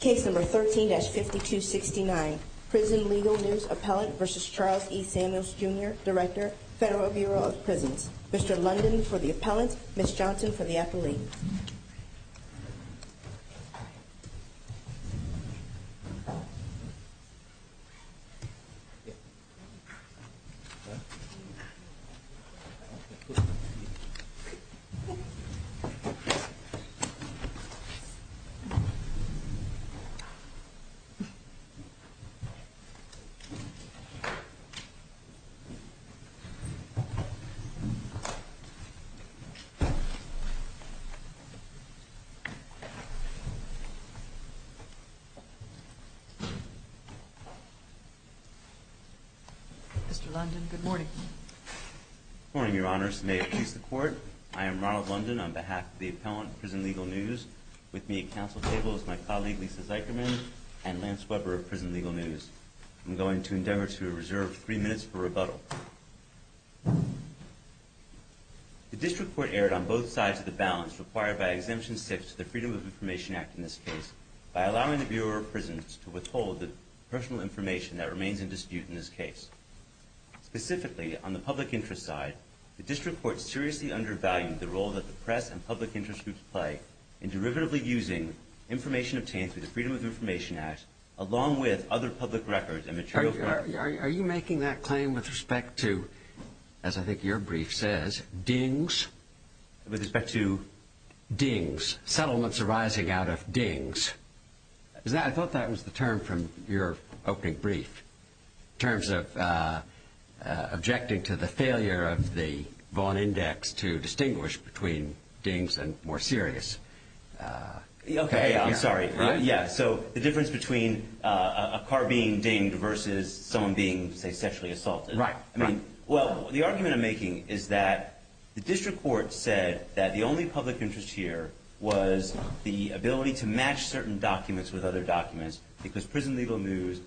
Case No. 13-5269, Prison Legal News Appellant v. Charles E. Samuels, Jr., Director, Federal Bureau of Prisons. Mr. London for the appellant, Ms. Johnson for the appellate. Mr. London, good morning. Good morning, Your Honors. May it please the Court, I am Ronald London on behalf of the appellant, Prison Legal News. With me at council table is my colleague, Lisa Zycherman, and Lance Weber of Prison Legal News. I'm going to endeavor to reserve three minutes for rebuttal. The district court erred on both sides of the balance required by Exemption 6 to the Freedom of Information Act in this case by allowing the Bureau of Prisons to withhold the personal information that remains in dispute in this case. Specifically, on the public interest side, the district court seriously undervalued the role that the press and public interest groups play in derivatively using information obtained through the Freedom of Information Act along with other public records and materials. Are you making that claim with respect to, as I think your brief says, dings? With respect to? Dings. Settlements arising out of dings. I thought that was the term from your opening brief in terms of objecting to the failure of the Vaughn Index to distinguish between dings and more serious. OK, I'm sorry. Yeah, so the difference between a car being dinged versus someone being, say, sexually assaulted. Right. I mean, well, the argument I'm making is that the district court said that the only public interest here was the ability to match certain documents with other documents because prison legal news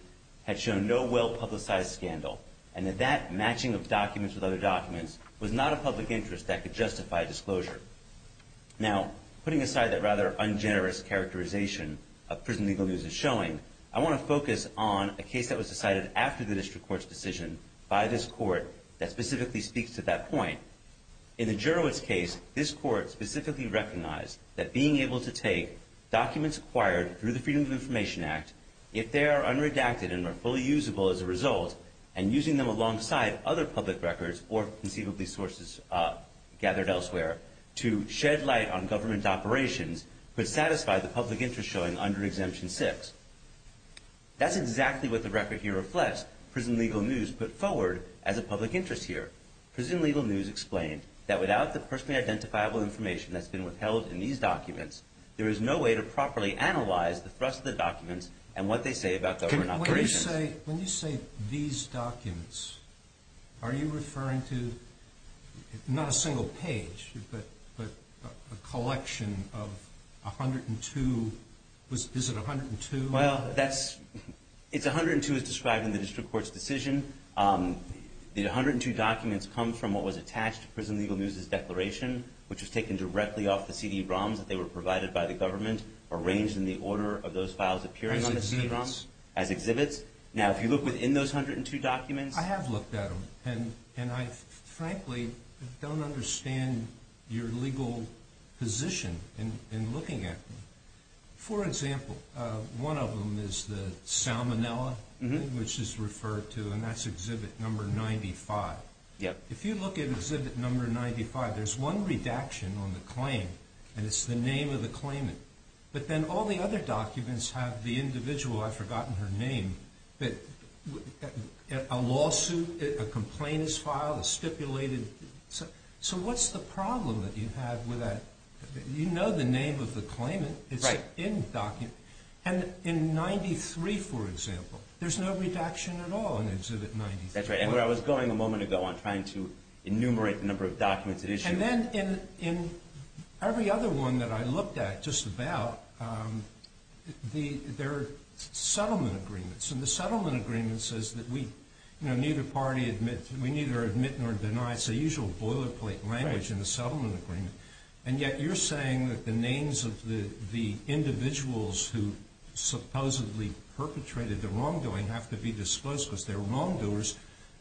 had shown no well-publicized scandal, and that that matching of documents with other documents was not a public interest that could justify disclosure. Now, putting aside that rather ungenerous characterization of prison legal news as showing, I want to focus on a case that was decided after the district court's decision by this court that specifically speaks to that point. In the Jurowitz case, this court specifically recognized that being able to take documents acquired through the Freedom of Information Act, if they are unredacted and are fully usable as a result, and using them alongside other public records or conceivably sources gathered elsewhere, to shed light on government operations could satisfy the public interest showing under Exemption 6. That's exactly what the record here reflects prison legal news put forward as a public interest here. Prison legal news explained that without the personally identifiable information that's been withheld in these documents, there is no way to properly analyze the thrust of the documents and what they say about government operations. When you say these documents, are you referring to not a single page, but a collection of 102? Is it 102? Well, it's 102 as described in the district court's decision. The 102 documents come from what was attached to prison legal news's declaration, which was taken directly off the CD-ROMs that they were provided by the government, arranged in the order of those files appearing on the CD-ROMs as exhibits. Now, if you look within those 102 documents... I have looked at them, and I frankly don't understand your legal position in looking at them. For example, one of them is the Salmonella, which is referred to, and that's exhibit number 95. If you look at exhibit number 95, there's one redaction on the claim, and it's the name of the claimant. But then all the other documents have the individual. I've forgotten her name. A lawsuit, a complaint is filed, a stipulated... So what's the problem that you have with that? You know the name of the claimant. It's in the document. And in 93, for example, there's no redaction at all in exhibit 93. That's right. And where I was going a moment ago on trying to enumerate the number of documents at issue... And then in every other one that I looked at just about, there are settlement agreements. And the settlement agreement says that we neither party admits, we neither admit nor deny. It's the usual boilerplate language in the settlement agreement. And yet you're saying that the names of the individuals who supposedly perpetrated the wrongdoing don't have to be disclosed because they're wrongdoers.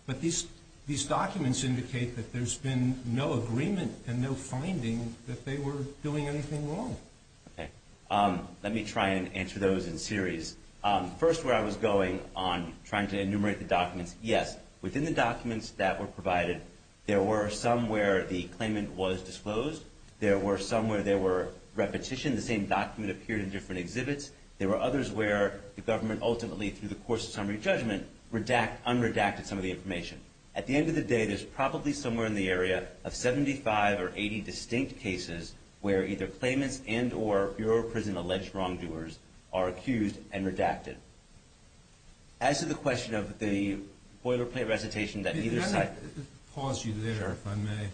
But these documents indicate that there's been no agreement and no finding that they were doing anything wrong. Okay. Let me try and answer those in series. First, where I was going on trying to enumerate the documents, yes, within the documents that were provided, there were some where the claimant was disclosed. There were some where there were repetitions. The same document appeared in different exhibits. There were others where the government ultimately, through the course of summary judgment, unredacted some of the information. At the end of the day, there's probably somewhere in the area of 75 or 80 distinct cases where either claimants and or Bureau of Prison alleged wrongdoers are accused and redacted. As to the question of the boilerplate recitation that neither side... Pause you there, if I may.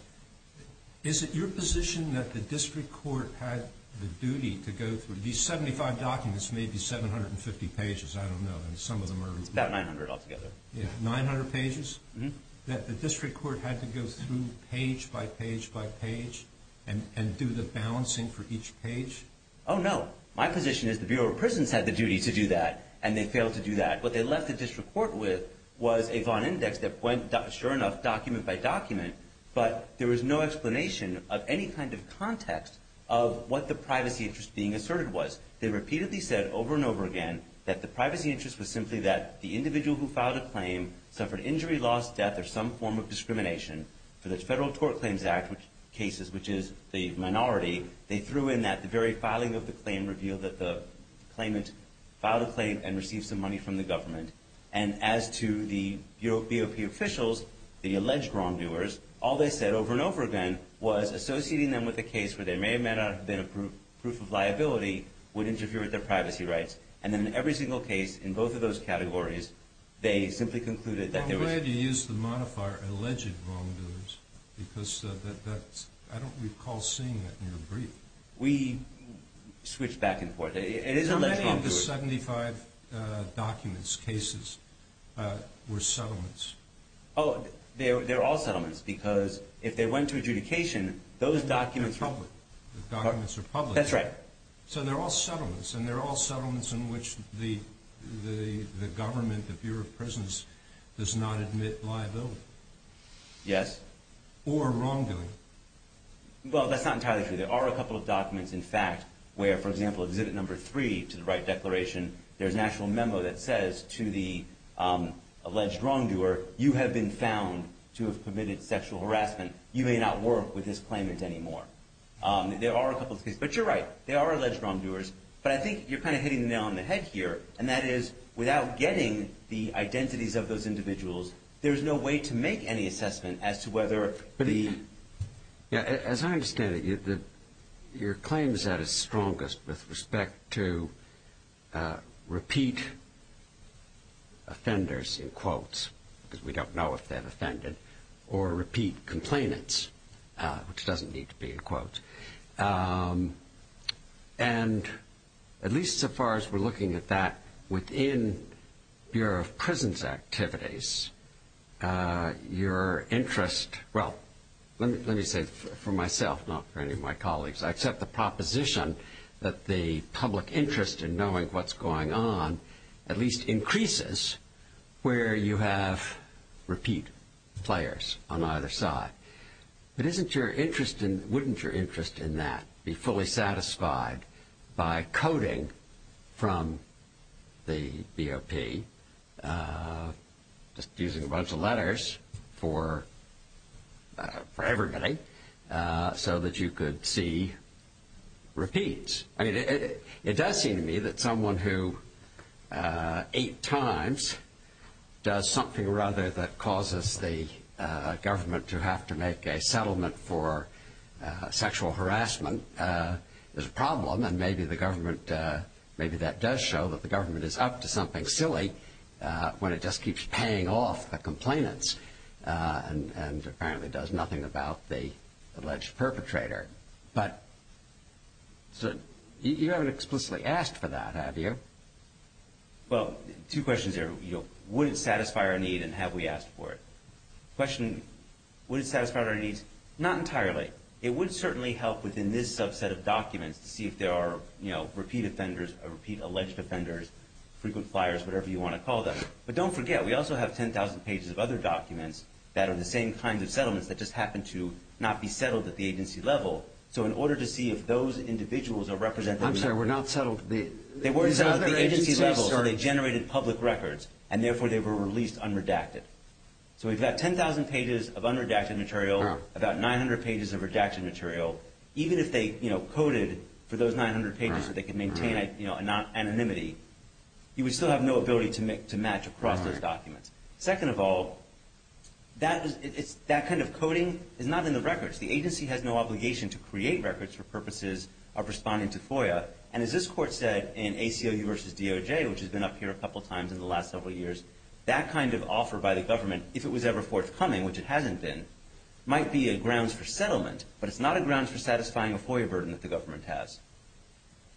Is it your position that the district court had the duty to go through these 75 documents, maybe 750 pages, I don't know, and some of them are... It's about 900 altogether. 900 pages? Mm-hmm. That the district court had to go through page by page by page and do the balancing for each page? Oh, no. My position is the Bureau of Prisons had the duty to do that, and they failed to do that. What they left the district court with was a Vaughn Index that went, sure enough, document by document, but there was no explanation of any kind of context of what the privacy interest being asserted was. They repeatedly said over and over again that the privacy interest was simply that the individual who filed a claim suffered injury, loss, death, or some form of discrimination. For the Federal Tort Claims Act cases, which is the minority, they threw in that. The very filing of the claim revealed that the claimant filed a claim and received some money from the government. And as to the BOP officials, the alleged wrongdoers, all they said over and over again was associating them with a case where there may have been a proof of liability would interfere with their privacy rights. And in every single case in both of those categories, they simply concluded that there was... I'm glad you used the modifier alleged wrongdoers because I don't recall seeing that in your brief. We switched back and forth. It is alleged wrongdoers. How many of the 75 documents, cases, were settlements? Oh, they're all settlements because if they went to adjudication, those documents are public. The documents are public. That's right. So they're all settlements, and they're all settlements in which the government, the Bureau of Prisons, does not admit liability. Yes. Or wrongdoing. Well, that's not entirely true. There are a couple of documents, in fact, where, for example, Exhibit No. 3, to the right declaration, there's an actual memo that says to the alleged wrongdoer, you have been found to have committed sexual harassment. You may not work with this claimant anymore. There are a couple of cases. But you're right. They are alleged wrongdoers. But I think you're kind of hitting the nail on the head here, and that is without getting the identities of those individuals, there's no way to make any assessment as to whether the... As I understand it, your claim is at its strongest with respect to repeat offenders, in quotes, because we don't know if they're offended, or repeat complainants, which doesn't need to be in quotes. And at least so far as we're looking at that within Bureau of Prisons activities, your interest... Well, let me say for myself, not for any of my colleagues, I accept the proposition that the public interest in knowing what's going on at least increases where you have repeat players on either side. But wouldn't your interest in that be fully satisfied by coding from the BOP, just using a bunch of letters for everybody, so that you could see repeats? I mean, it does seem to me that someone who, eight times, does something, rather, that causes the government to have to make a settlement for sexual harassment is a problem, and maybe that does show that the government is up to something silly when it just keeps paying off the complainants, and apparently does nothing about the alleged perpetrator. But you haven't explicitly asked for that, have you? Well, two questions here. Would it satisfy our need, and have we asked for it? The question, would it satisfy our needs? Not entirely. It would certainly help within this subset of documents to see if there are repeat offenders, repeat alleged offenders, frequent flyers, whatever you want to call them. But don't forget, we also have 10,000 pages of other documents that are the same kinds of settlements that just happen to not be settled at the agency level. So in order to see if those individuals are represented... I'm sorry, were not settled at the other agency's level? They were settled at the agency level, so they generated public records, and therefore they were released unredacted. So we've got 10,000 pages of unredacted material, about 900 pages of redacted material. Even if they coded for those 900 pages so they could maintain anonymity, you would still have no ability to match across those documents. Second of all, that kind of coding is not in the records. The agency has no obligation to create records for purposes of responding to FOIA, and as this Court said in ACLU v. DOJ, which has been up here a couple times in the last several years, that kind of offer by the government, if it was ever forthcoming, which it hasn't been, might be a grounds for settlement. But it's not a grounds for satisfying a FOIA burden that the government has.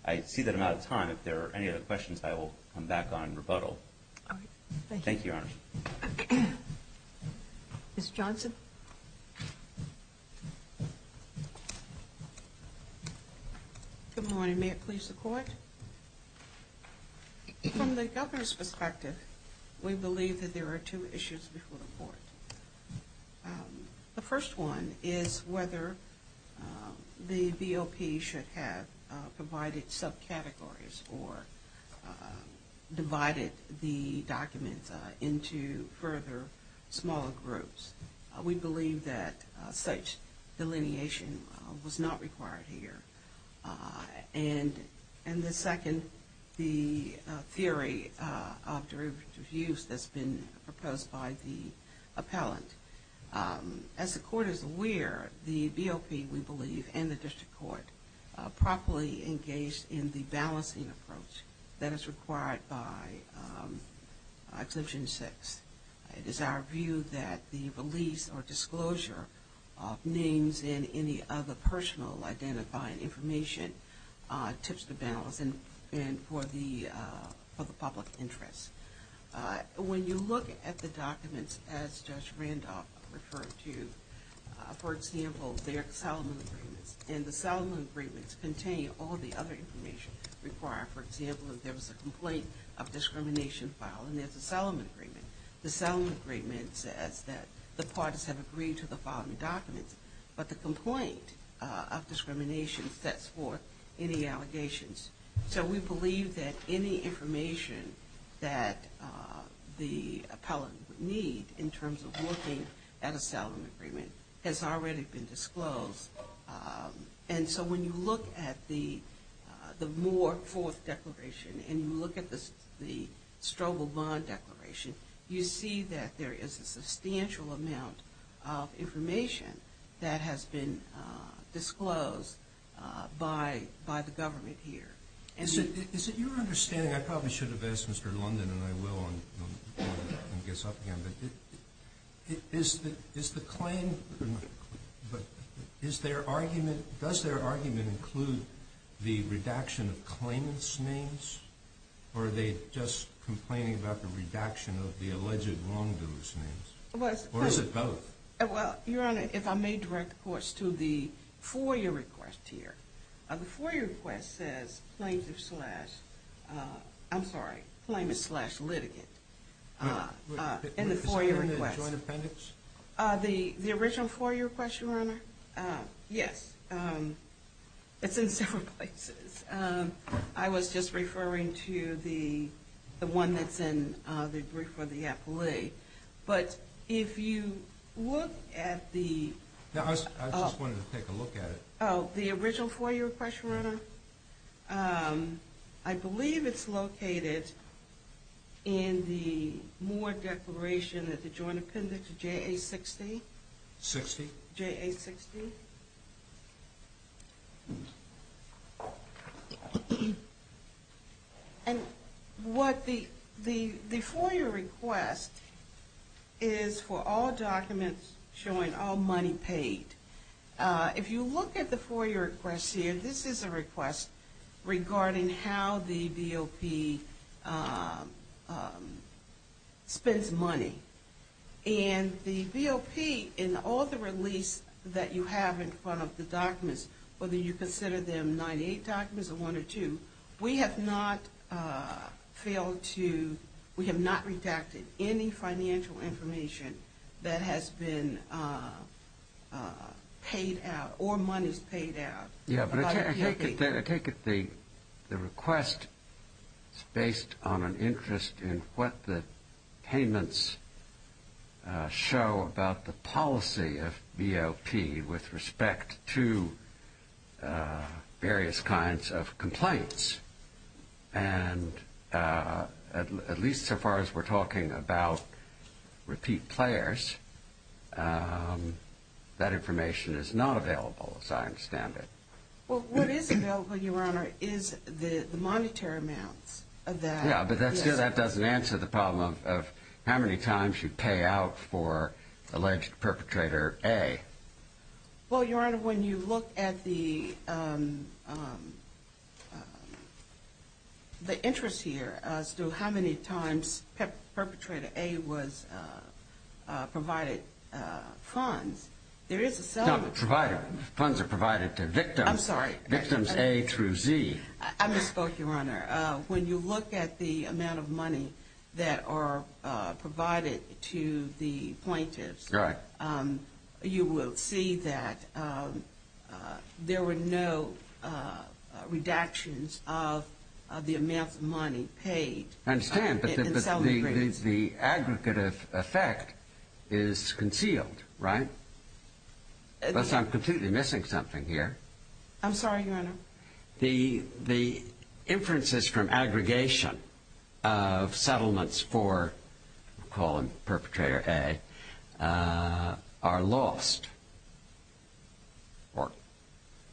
I see that I'm out of time. If there are any other questions, I will come back on rebuttal. Thank you, Your Honor. Ms. Johnson? Good morning. May it please the Court? From the governor's perspective, we believe that there are two issues before the Court. The first one is whether the VOP should have provided subcategories or divided the documents into further smaller groups. We believe that such delineation was not required here. And the second, the theory of derivative use that's been proposed by the appellant. As the Court is aware, the VOP, we believe, and the district court, properly engaged in the balancing approach that is required by Exemption 6. It is our view that the release or disclosure of names and any other personal identifying information tips the balance for the public interest. When you look at the documents, as Judge Randolph referred to, for example, their settlement agreements, and the settlement agreements contain all the other information required. For example, if there was a complaint of discrimination filed, and there's a settlement agreement, the settlement agreement says that the parties have agreed to the following documents, but the complaint of discrimination sets forth any allegations. So we believe that any information that the appellant would need in terms of looking at a settlement agreement has already been disclosed. And so when you look at the Moore Fourth Declaration and you look at the Strobel Bond Declaration, you see that there is a substantial amount of information that has been disclosed by the government here. Is it your understanding, I probably should have asked Mr. London, and I will when it gets up again, but does their argument include the redaction of claimant's names, or are they just complaining about the redaction of the alleged wrongdoer's names? Or is it both? Well, Your Honor, if I may direct the courts to the FOIA request here. The FOIA request says claimant slash litigant. In the FOIA request. Is it in the joint appendix? The original FOIA request, Your Honor? Yes. It's in several places. I was just referring to the one that's in the brief for the appellee. But if you look at the... No, I just wanted to take a look at it. Oh, the original FOIA request, Your Honor? I believe it's located in the more declaration at the joint appendix JA-60. 60? JA-60. And what the... The FOIA request is for all documents showing all money paid. If you look at the FOIA request here, this is a request regarding how the V.O.P. spends money. And the V.O.P., in all the release that you have in front of the documents, whether you consider them 98 documents or one or two, we have not failed to... We have not redacted any financial information that has been paid out or monies paid out about V.O.P. Yeah, but I take it the request is based on an interest in what the payments show about the policy of V.O.P. with respect to various kinds of complaints. And at least so far as we're talking about repeat players, that information is not available, as I understand it. Well, what is available, Your Honor, is the monetary amounts of that. Yeah, but that doesn't answer the problem of how many times you pay out for alleged perpetrator A. Well, Your Honor, when you look at the interest here as to how many times perpetrator A was provided funds, there is a... Funds are provided to victims. I'm sorry. Victims A through Z. I misspoke, Your Honor. When you look at the amount of money that are provided to the plaintiffs... Right. ...you will see that there were no redactions of the amount of money paid... I understand, but the aggregative effect is concealed, right? Unless I'm completely missing something here. I'm sorry, Your Honor. The inferences from aggregation of settlements for perpetrator A are lost, or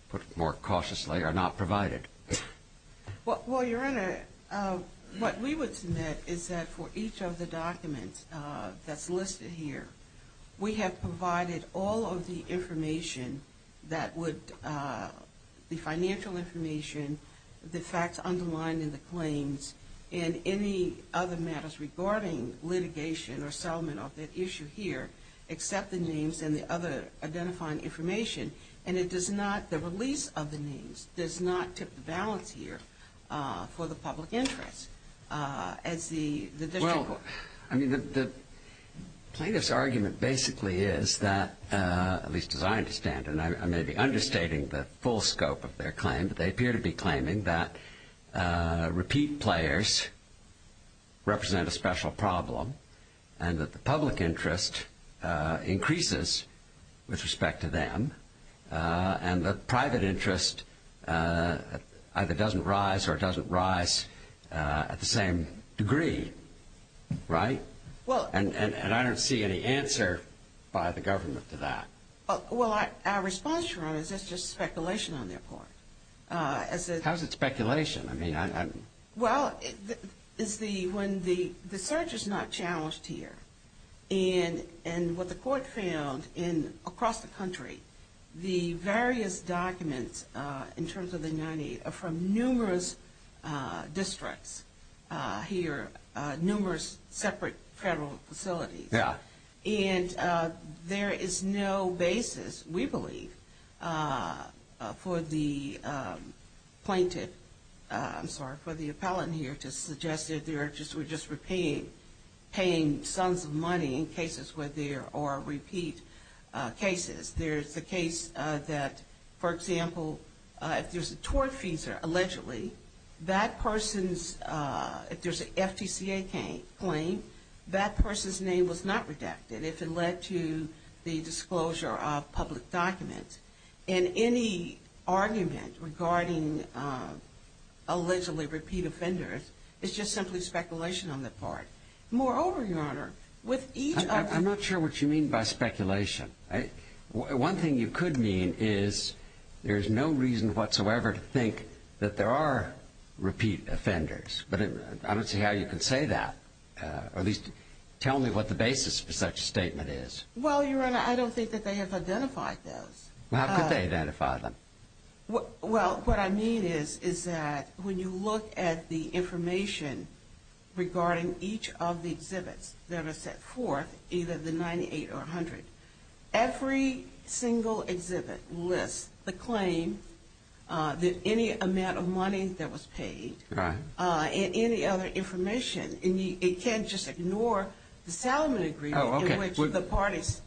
put more cautiously, are not provided. Well, Your Honor, what we would submit is that for each of the documents that's listed here, we have provided all of the information that would be financial information, the facts underlined in the claims, and any other matters regarding litigation or settlement of that issue here, except the names and the other identifying information. And it does not, the release of the names, does not tip the balance here for the public interest. As the district court... The plaintiff's argument basically is that, at least as I understand it, and I may be understating the full scope of their claim, but they appear to be claiming that repeat players represent a special problem and that the public interest increases with respect to them and that private interest either doesn't rise or doesn't rise at the same degree, right? And I don't see any answer by the government to that. Well, our response, Your Honor, is that's just speculation on their part. How is it speculation? Well, when the search is not challenged here, and what the court found across the country, the various documents in terms of the 98 are from numerous districts here, numerous separate federal facilities. Yeah. And there is no basis, we believe, for the plaintiff, I'm sorry, for the appellant here, to suggest that they were just repaying sons of money in cases where there are repeat cases. There's the case that, for example, if there's a tort fees allegedly, that person's, if there's an FTCA claim, that person's name was not redacted if it led to the disclosure of public documents. And any argument regarding allegedly repeat offenders is just simply speculation on their part. Moreover, Your Honor, with each of the- I'm not sure what you mean by speculation. One thing you could mean is there's no reason whatsoever to think that there are repeat offenders. But I don't see how you could say that, or at least tell me what the basis for such a statement is. Well, Your Honor, I don't think that they have identified those. How could they have identified them? Well, what I mean is that when you look at the information regarding each of the exhibits that are set forth, either the 98 or 100, every single exhibit lists the claim, any amount of money that was paid, and any other information. And you can't just ignore the Salomon Agreement in which the parties-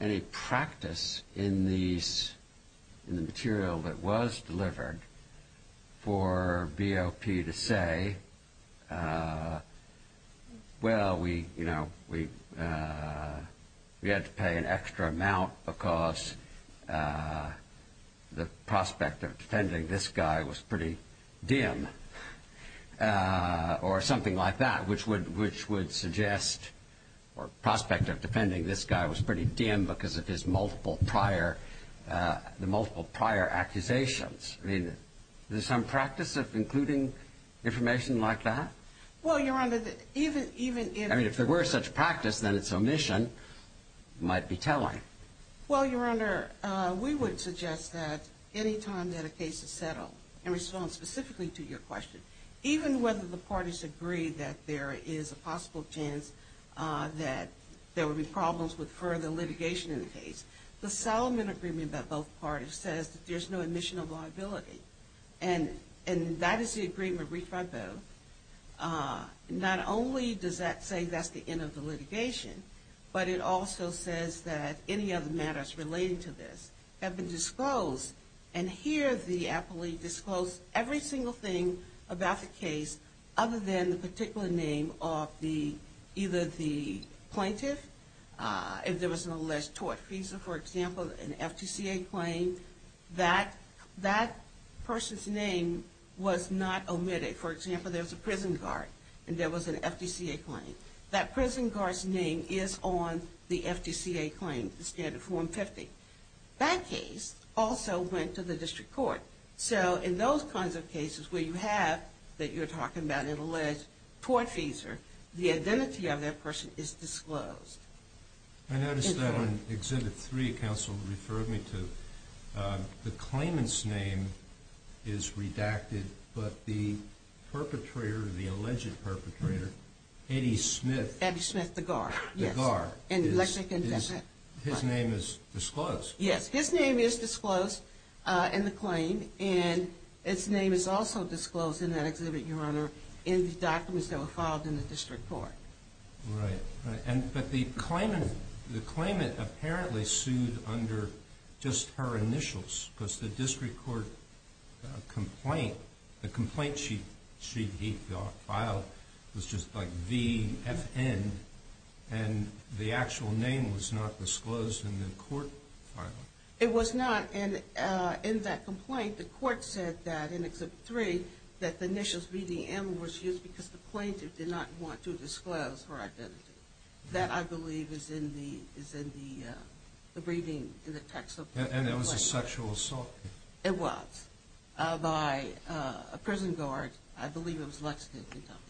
Any practice in the material that was delivered for BOP to say, well, we had to pay an extra amount because the prospect of defending this guy was pretty dim, or something like that, which would suggest, or prospect of defending this guy was pretty dim because of his multiple prior accusations. I mean, is there some practice of including information like that? Well, Your Honor, even if- I mean, if there were such practice, then its omission might be telling. Well, Your Honor, we would suggest that any time that a case is settled, in response specifically to your question, even whether the parties agree that there is a possible chance that there would be problems with further litigation in the case, the Salomon Agreement by both parties says that there's no omission of liability. And that is the agreement reached by both. Not only does that say that's the end of the litigation, but it also says that any other matters relating to this have been disclosed. And here, the appellee disclosed every single thing about the case, other than the particular name of either the plaintiff, if there was an alleged tort fee. So, for example, an FTCA claim, that person's name was not omitted. For example, there was a prison guard, and there was an FTCA claim. That prison guard's name is on the FTCA claim, the standard form 50. That case also went to the district court. So, in those kinds of cases where you have, that you're talking about an alleged tort fees, the identity of that person is disclosed. I noticed that on Exhibit 3, counsel referred me to the claimant's name is redacted, but the perpetrator, the alleged perpetrator, Eddie Smith. Eddie Smith, the guard. The guard. Yes. His name is disclosed. Yes, his name is disclosed in the claim, and his name is also disclosed in that exhibit, Your Honor, in the documents that were filed in the district court. Right. But the claimant apparently sued under just her initials, because the district court complaint, the complaint she filed was just like VFN, and the actual name was not disclosed in the court file. It was not, and in that complaint, the court said that in Exhibit 3, that the initials VDM was used because the plaintiff did not want to disclose her identity. That, I believe, is in the reading in the text of the complaint. And it was a sexual assault. It was, by a prison guard. I believe it was Lexington, Kentucky.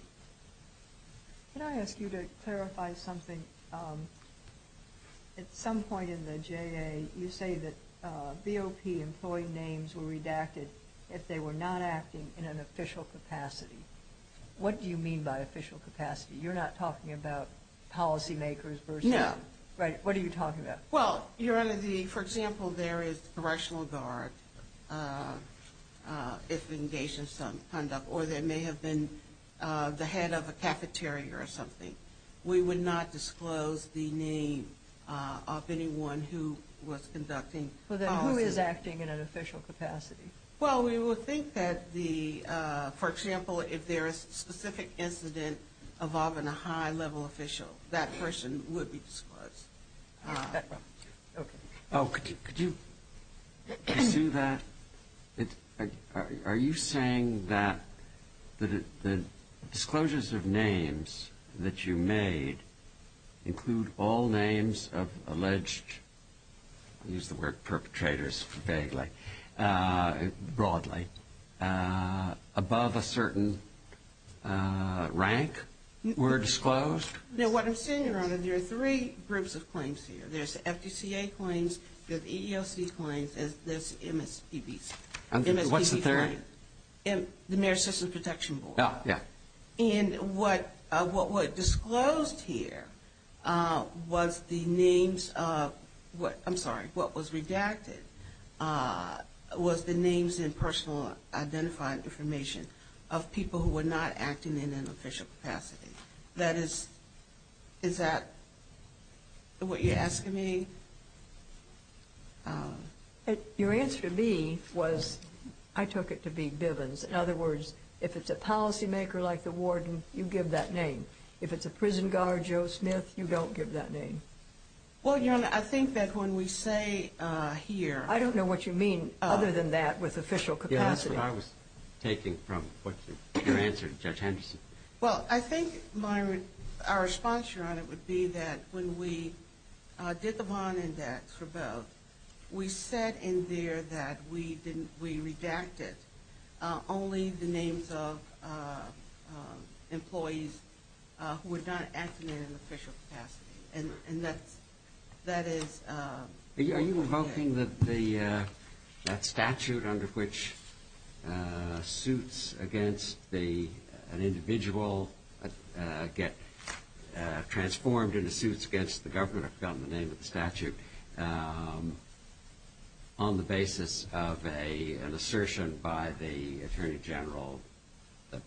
Can I ask you to clarify something? At some point in the JA, you say that BOP employee names were redacted if they were not acting in an official capacity. What do you mean by official capacity? You're not talking about policymakers versus them. No. Right. What are you talking about? Well, Your Honor, for example, there is a correctional guard if engaged in some conduct, or there may have been the head of a cafeteria or something. We would not disclose the name of anyone who was conducting policy. Then who is acting in an official capacity? Well, we would think that, for example, if there is a specific incident involving a high-level official, that person would be disclosed. Could you pursue that? Are you saying that the disclosures of names that you made include all names of alleged, I use the word perpetrators vaguely, broadly, above a certain rank were disclosed? Now, what I'm saying, Your Honor, there are three groups of claims here. There's FDCA claims, there's EEOC claims, and there's MSPB claims. What's the third? The Mayor's System Protection Board. Yeah. And what was disclosed here was the names of what was redacted was the names and personal identifying information of people who were not acting in an official capacity. That is, is that what you're asking me? Your answer to me was I took it to be Bivens. In other words, if it's a policymaker like the warden, you give that name. If it's a prison guard, Joe Smith, you don't give that name. Well, Your Honor, I think that when we say here – I don't know what you mean other than that with official capacity. That's what I was taking from what you answered, Judge Henderson. Well, I think our response, Your Honor, would be that when we did the bond index for both, we said in there that we redacted only the names of employees who were not acting in an official capacity. And that is – Are you invoking that statute under which suits against an individual get transformed into suits against the government, I've forgotten the name of the statute, on the basis of an assertion by the Attorney General that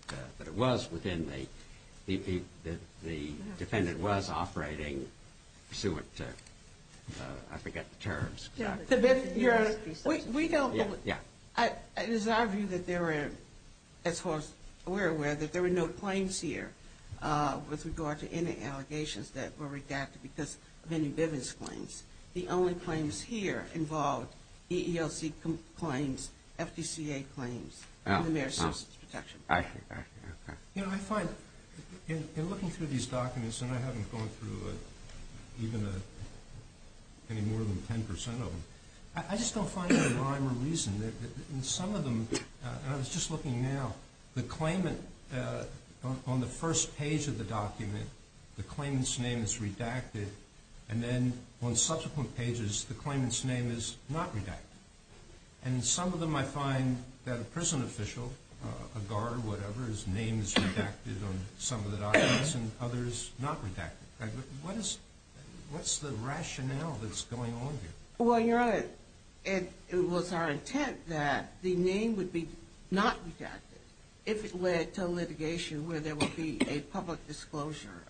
it was within the – that the defendant was operating suit – I forget the terms. Your Honor, we don't – it is our view that there were, as far as we're aware, that there were no claims here with regard to any allegations that were redacted because of any Bivens claims. The only claims here involved EELC claims, FDCA claims, and the Mayor's Citizens Protection Act. Your Honor, I find in looking through these documents, and I haven't gone through even any more than 10 percent of them, I just don't find there a rhyme or reason that in some of them – and I was just looking now – the claimant on the first page of the document, the claimant's name is redacted, and then on subsequent pages the claimant's name is not redacted. And in some of them I find that a prison official, a guard, whatever, his name is redacted on some of the documents and others not redacted. What is – what's the rationale that's going on here? Well, Your Honor, it was our intent that the name would be not redacted if it led to litigation where there would be a public disclosure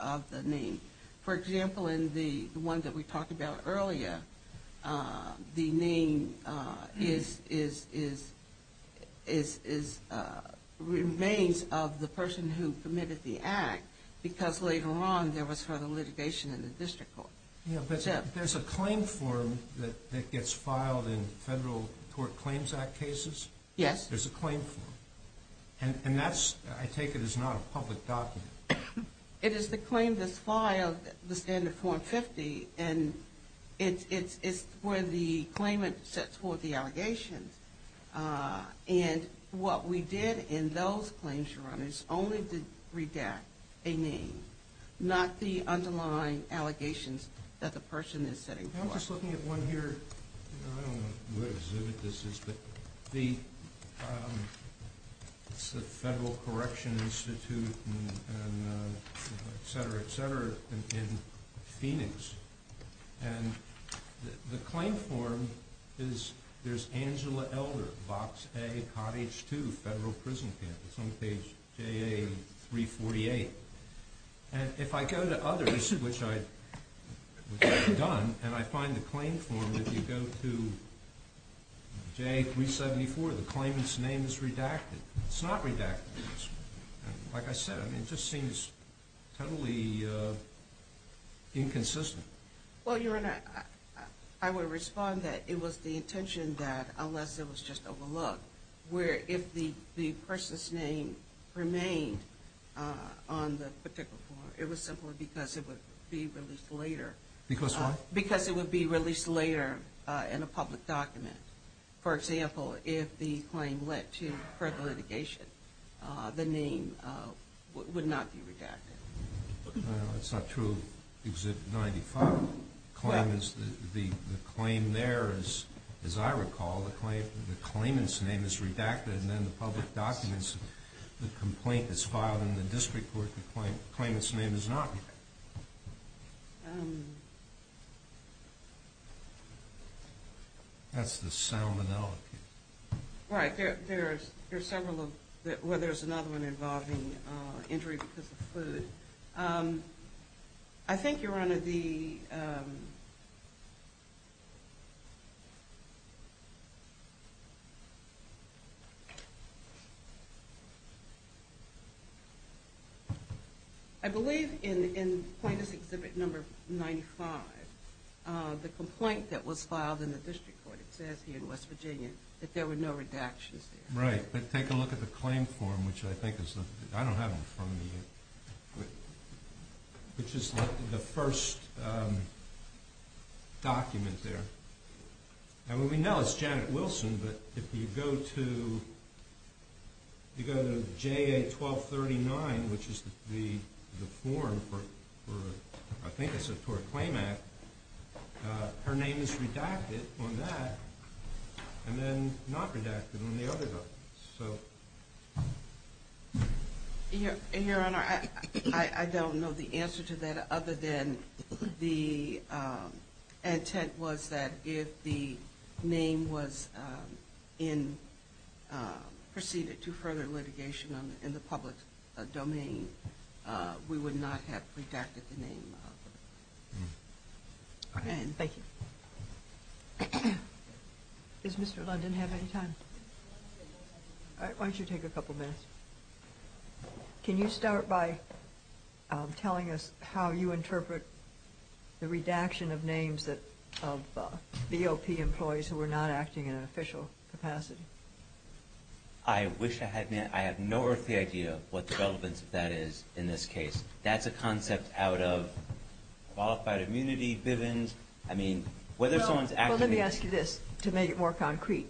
of the name. For example, in the one that we talked about earlier, the name is – remains of the person who committed the act because later on there was further litigation in the district court. Yeah, but there's a claim form that gets filed in Federal Tort Claims Act cases? Yes. There's a claim form. And that's – I take it is not a public document. It is the claim that's filed, the standard form 50, and it's where the claimant sets forth the allegations. And what we did in those claims, Your Honor, is only to redact a name, not the underlying allegations that the person is setting forth. I'm just looking at one here. I don't know what exhibit this is, but it's the Federal Correction Institute, et cetera, et cetera, in Phoenix. And the claim form is – there's Angela Elder, Box A, Cottage 2, Federal Prison Camp. It's on page JA-348. And if I go to others, which I've done, and I find the claim form, if you go to JA-374, the claimant's name is redacted. It's not redacted. Like I said, I mean, it just seems totally inconsistent. Well, Your Honor, I would respond that it was the intention that, unless it was just overlooked, where if the person's name remained on the particular form, it was simply because it would be released later. Because what? Because it would be released later in a public document. For example, if the claim led to further litigation, the name would not be redacted. That's not true of exhibit 95. The claim there, as I recall, the claimant's name is redacted, and then the public documents, the complaint is filed in the district court, the claimant's name is not redacted. That's the sound analogy. Right. There's several of – well, there's another one involving injury because of food. I think, Your Honor, the – I believe in plaintiff's exhibit number 95, the complaint that was filed in the district court, it says here in West Virginia, that there were no redactions there. Right. But take a look at the claim form, which I think is – I don't have them from the – which is the first document there. And what we know is Janet Wilson, but if you go to JA-1239, which is the form for, I think it's a tort claim act, her name is redacted on that, and then not redacted on the other documents. Your Honor, I don't know the answer to that, other than the intent was that if the name was in – proceeded to further litigation in the public domain, we would not have redacted the name. Thank you. Does Mr. London have any time? All right. Why don't you take a couple minutes? Can you start by telling us how you interpret the redaction of names that – of BOP employees who were not acting in an official capacity? I wish I had – I have no earthly idea what the relevance of that is in this case. That's a concept out of qualified immunity, Bivens. I mean, whether someone's – Well, let me ask you this to make it more concrete.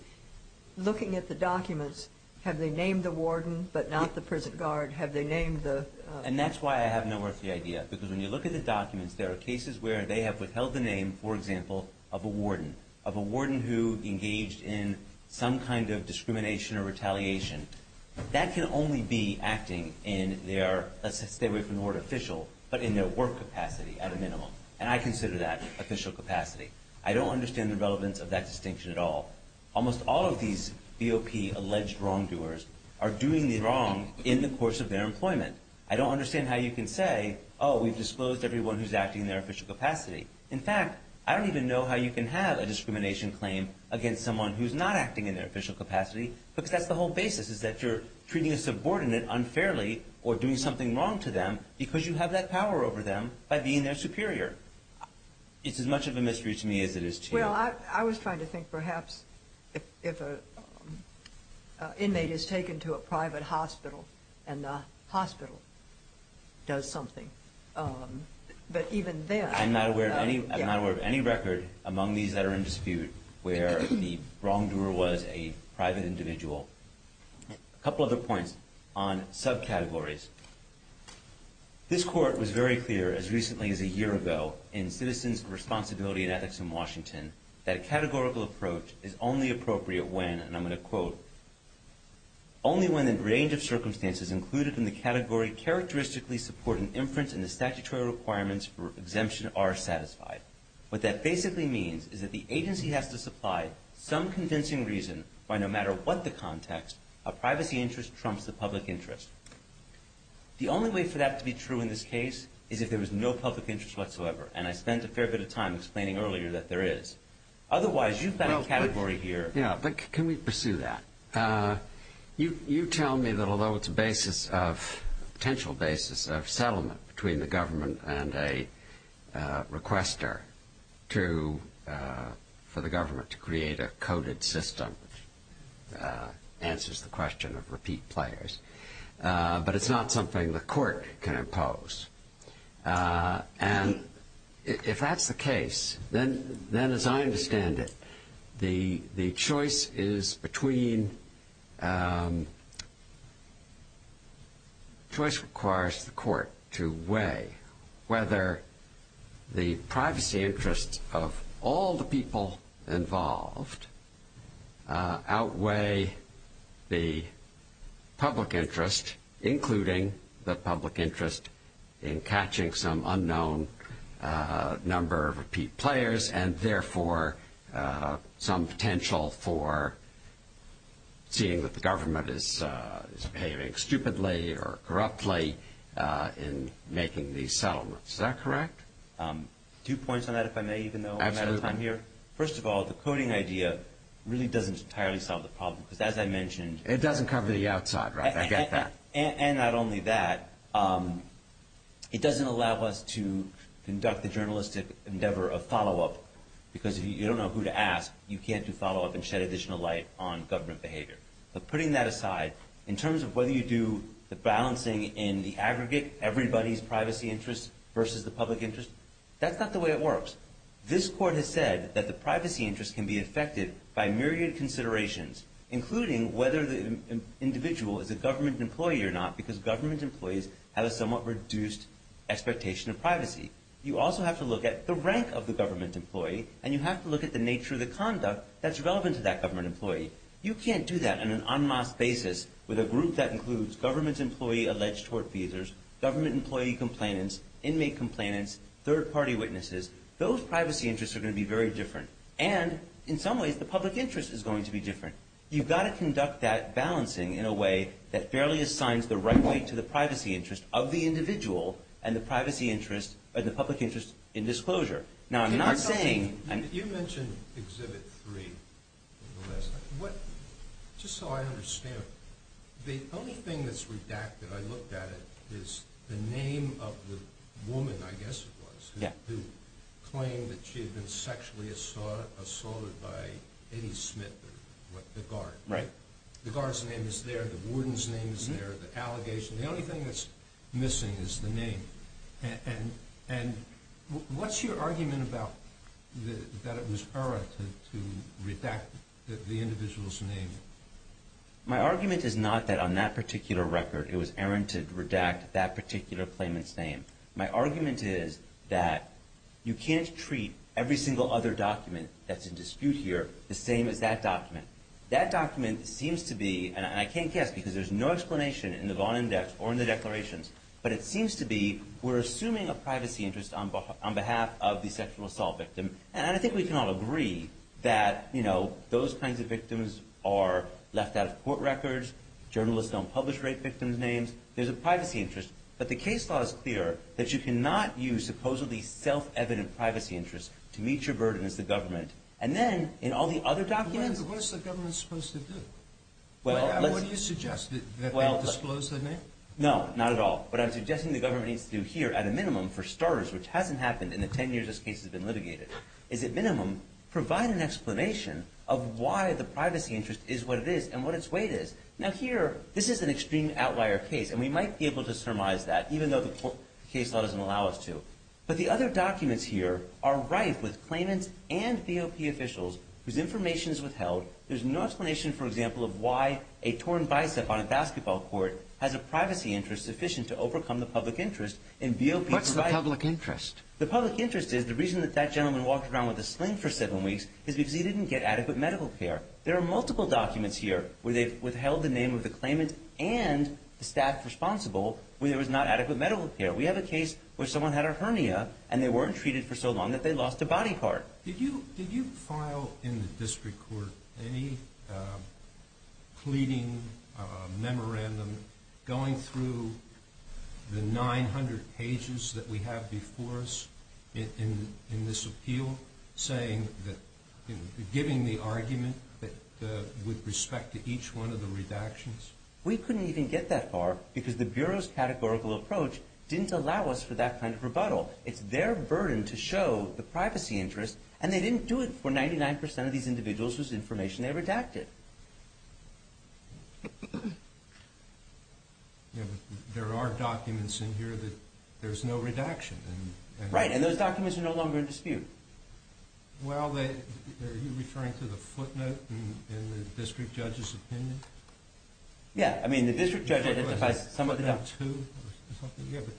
Looking at the documents, have they named the warden but not the prison guard? Have they named the – And that's why I have no earthly idea, because when you look at the documents, there are cases where they have withheld the name, for example, of a warden, of a warden who engaged in some kind of discrimination or retaliation. That can only be acting in their – let's stay away from the word official, but in their work capacity at a minimum, and I consider that official capacity. I don't understand the relevance of that distinction at all. Almost all of these BOP alleged wrongdoers are doing wrong in the course of their employment. I don't understand how you can say, oh, we've disclosed everyone who's acting in their official capacity. In fact, I don't even know how you can have a discrimination claim against someone who's not acting in their official capacity, because that's the whole basis, is that you're treating a subordinate unfairly or doing something wrong to them because you have that power over them by being their superior. It's as much of a mystery to me as it is to you. Well, I was trying to think perhaps if an inmate is taken to a private hospital and the hospital does something, but even then – I'm not aware of any record among these that are in dispute where the wrongdoer was a private individual. A couple other points on subcategories. This Court was very clear as recently as a year ago in Citizens Responsibility and Ethics in Washington that a categorical approach is only appropriate when, and I'm going to quote, only when the range of circumstances included in the category characteristically support an inference and the statutory requirements for exemption are satisfied. What that basically means is that the agency has to supply some convincing reason why no matter what the context, a privacy interest trumps the public interest. The only way for that to be true in this case is if there is no public interest whatsoever, and I spent a fair bit of time explaining earlier that there is. Otherwise, you've got a category here – Yeah, but can we pursue that? You tell me that although it's a basis of – a potential basis of settlement between the government and a requester for the government to create a coded system answers the question of repeat players, but it's not something the Court can impose. And if that's the case, then as I understand it, the choice is between – choice requires the Court to weigh whether the privacy interests of all the people involved outweigh the public interest, including the public interest in catching some unknown number of repeat players and therefore some potential for seeing that the government is behaving stupidly or corruptly in making these settlements. Is that correct? Two points on that, if I may, even though I'm out of time here. First of all, the coding idea really doesn't entirely solve the problem, because as I mentioned – It doesn't cover the outside, right? I get that. And not only that, it doesn't allow us to conduct the journalistic endeavor of follow-up, because if you don't know who to ask, you can't do follow-up and shed additional light on government behavior. But putting that aside, in terms of whether you do the balancing in the aggregate, everybody's privacy interests versus the public interest, that's not the way it works. This Court has said that the privacy interests can be affected by myriad considerations, including whether the individual is a government employee or not, because government employees have a somewhat reduced expectation of privacy. You also have to look at the rank of the government employee, and you have to look at the nature of the conduct that's relevant to that government employee. You can't do that on an en masse basis with a group that includes government employee alleged tort feasors, government employee complainants, inmate complainants, third-party witnesses. Those privacy interests are going to be very different. And, in some ways, the public interest is going to be different. You've got to conduct that balancing in a way that fairly assigns the right weight to the privacy interest of the individual and the public interest in disclosure. Now, I'm not saying – You mentioned Exhibit 3 in the last time. Just so I understand, the only thing that's redacted, I looked at it, is the name of the woman, I guess it was, who claimed that she had been sexually assaulted by Eddie Smith, the guard. The guard's name is there, the warden's name is there, the allegation. The only thing that's missing is the name. And what's your argument about that it was errant to redact the individual's name? My argument is not that on that particular record it was errant to redact that particular claimant's name. My argument is that you can't treat every single other document that's in dispute here the same as that document. That document seems to be – and I can't guess because there's no explanation in the Vaughn Index or in the declarations – but it seems to be we're assuming a privacy interest on behalf of the sexual assault victim. And I think we can all agree that those kinds of victims are left out of court records. Journalists don't publish rape victims' names. There's a privacy interest. But the case law is clear that you cannot use supposedly self-evident privacy interests to meet your burden as the government. And then in all the other documents – But what is the government supposed to do? What do you suggest? That they disclose their name? No, not at all. What I'm suggesting the government needs to do here at a minimum for starters, which hasn't happened in the 10 years this case has been litigated, is at minimum provide an explanation of why the privacy interest is what it is and what its weight is. Now here, this is an extreme outlier case, and we might be able to surmise that even though the case law doesn't allow us to. But the other documents here are rife with claimants and VOP officials whose information is withheld. There's no explanation, for example, of why a torn bicep on a basketball court has a privacy interest sufficient to overcome the public interest. What's the public interest? The public interest is the reason that that gentleman walked around with a sling for seven weeks is because he didn't get adequate medical care. There are multiple documents here where they've withheld the name of the claimant and the staff responsible when there was not adequate medical care. We have a case where someone had a hernia and they weren't treated for so long that they lost a body part. Did you file in the district court any pleading memorandum going through the 900 pages that we have before us in this appeal, giving the argument with respect to each one of the redactions? We couldn't even get that far because the Bureau's categorical approach didn't allow us for that kind of rebuttal. It's their burden to show the privacy interest, and they didn't do it for 99% of these individuals whose information they redacted. There are documents in here that there's no redaction. Right, and those documents are no longer in dispute. Are you referring to the footnote in the district judge's opinion? Yeah, I mean, the district judge identifies some of the documents.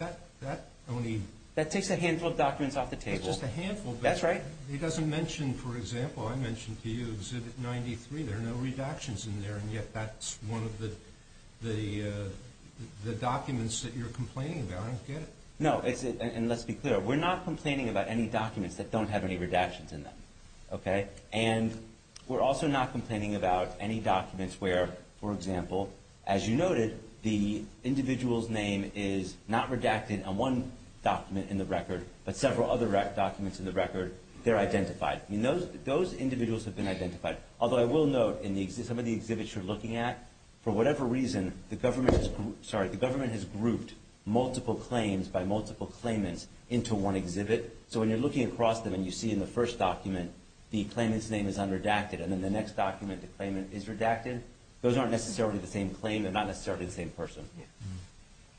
That takes a handful of documents off the table. It's just a handful. That's right. He doesn't mention, for example, I mentioned to you Exhibit 93. There are no redactions in there, and yet that's one of the documents that you're complaining about. I don't get it. No, and let's be clear. We're not complaining about any documents that don't have any redactions in them, okay? And we're also not complaining about any documents where, for example, as you noted, the individual's name is not redacted on one document in the record, but several other documents in the record. They're identified. Those individuals have been identified, although I will note in some of the exhibits you're looking at, for whatever reason, the government has grouped multiple claims by multiple claimants into one exhibit. So when you're looking across them and you see in the first document the claimant's name is unredacted, and in the next document the claimant is redacted, those aren't necessarily the same claim. They're not necessarily the same person.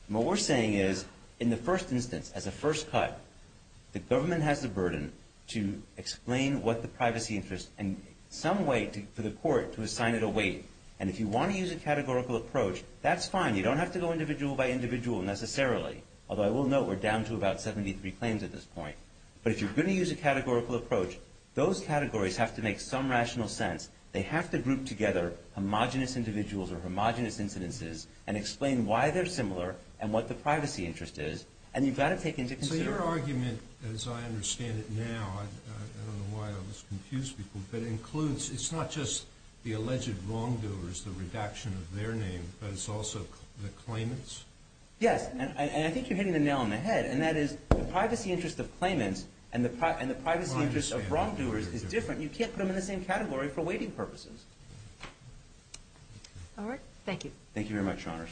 What we're saying is, in the first instance, as a first cut, the government has the burden to explain what the privacy interest and some way for the court to assign it a weight. And if you want to use a categorical approach, that's fine. You don't have to go individual by individual necessarily, although I will note we're down to about 73 claims at this point. But if you're going to use a categorical approach, those categories have to make some rational sense. They have to group together homogenous individuals or homogenous incidences and explain why they're similar and what the privacy interest is, and you've got to take into consideration. Is there an argument, as I understand it now, I don't know why I always confuse people, that includes it's not just the alleged wrongdoers, the redaction of their name, but it's also the claimants? Yes, and I think you're hitting the nail on the head. And that is the privacy interest of claimants and the privacy interest of wrongdoers is different. You can't put them in the same category for weighting purposes. All right, thank you.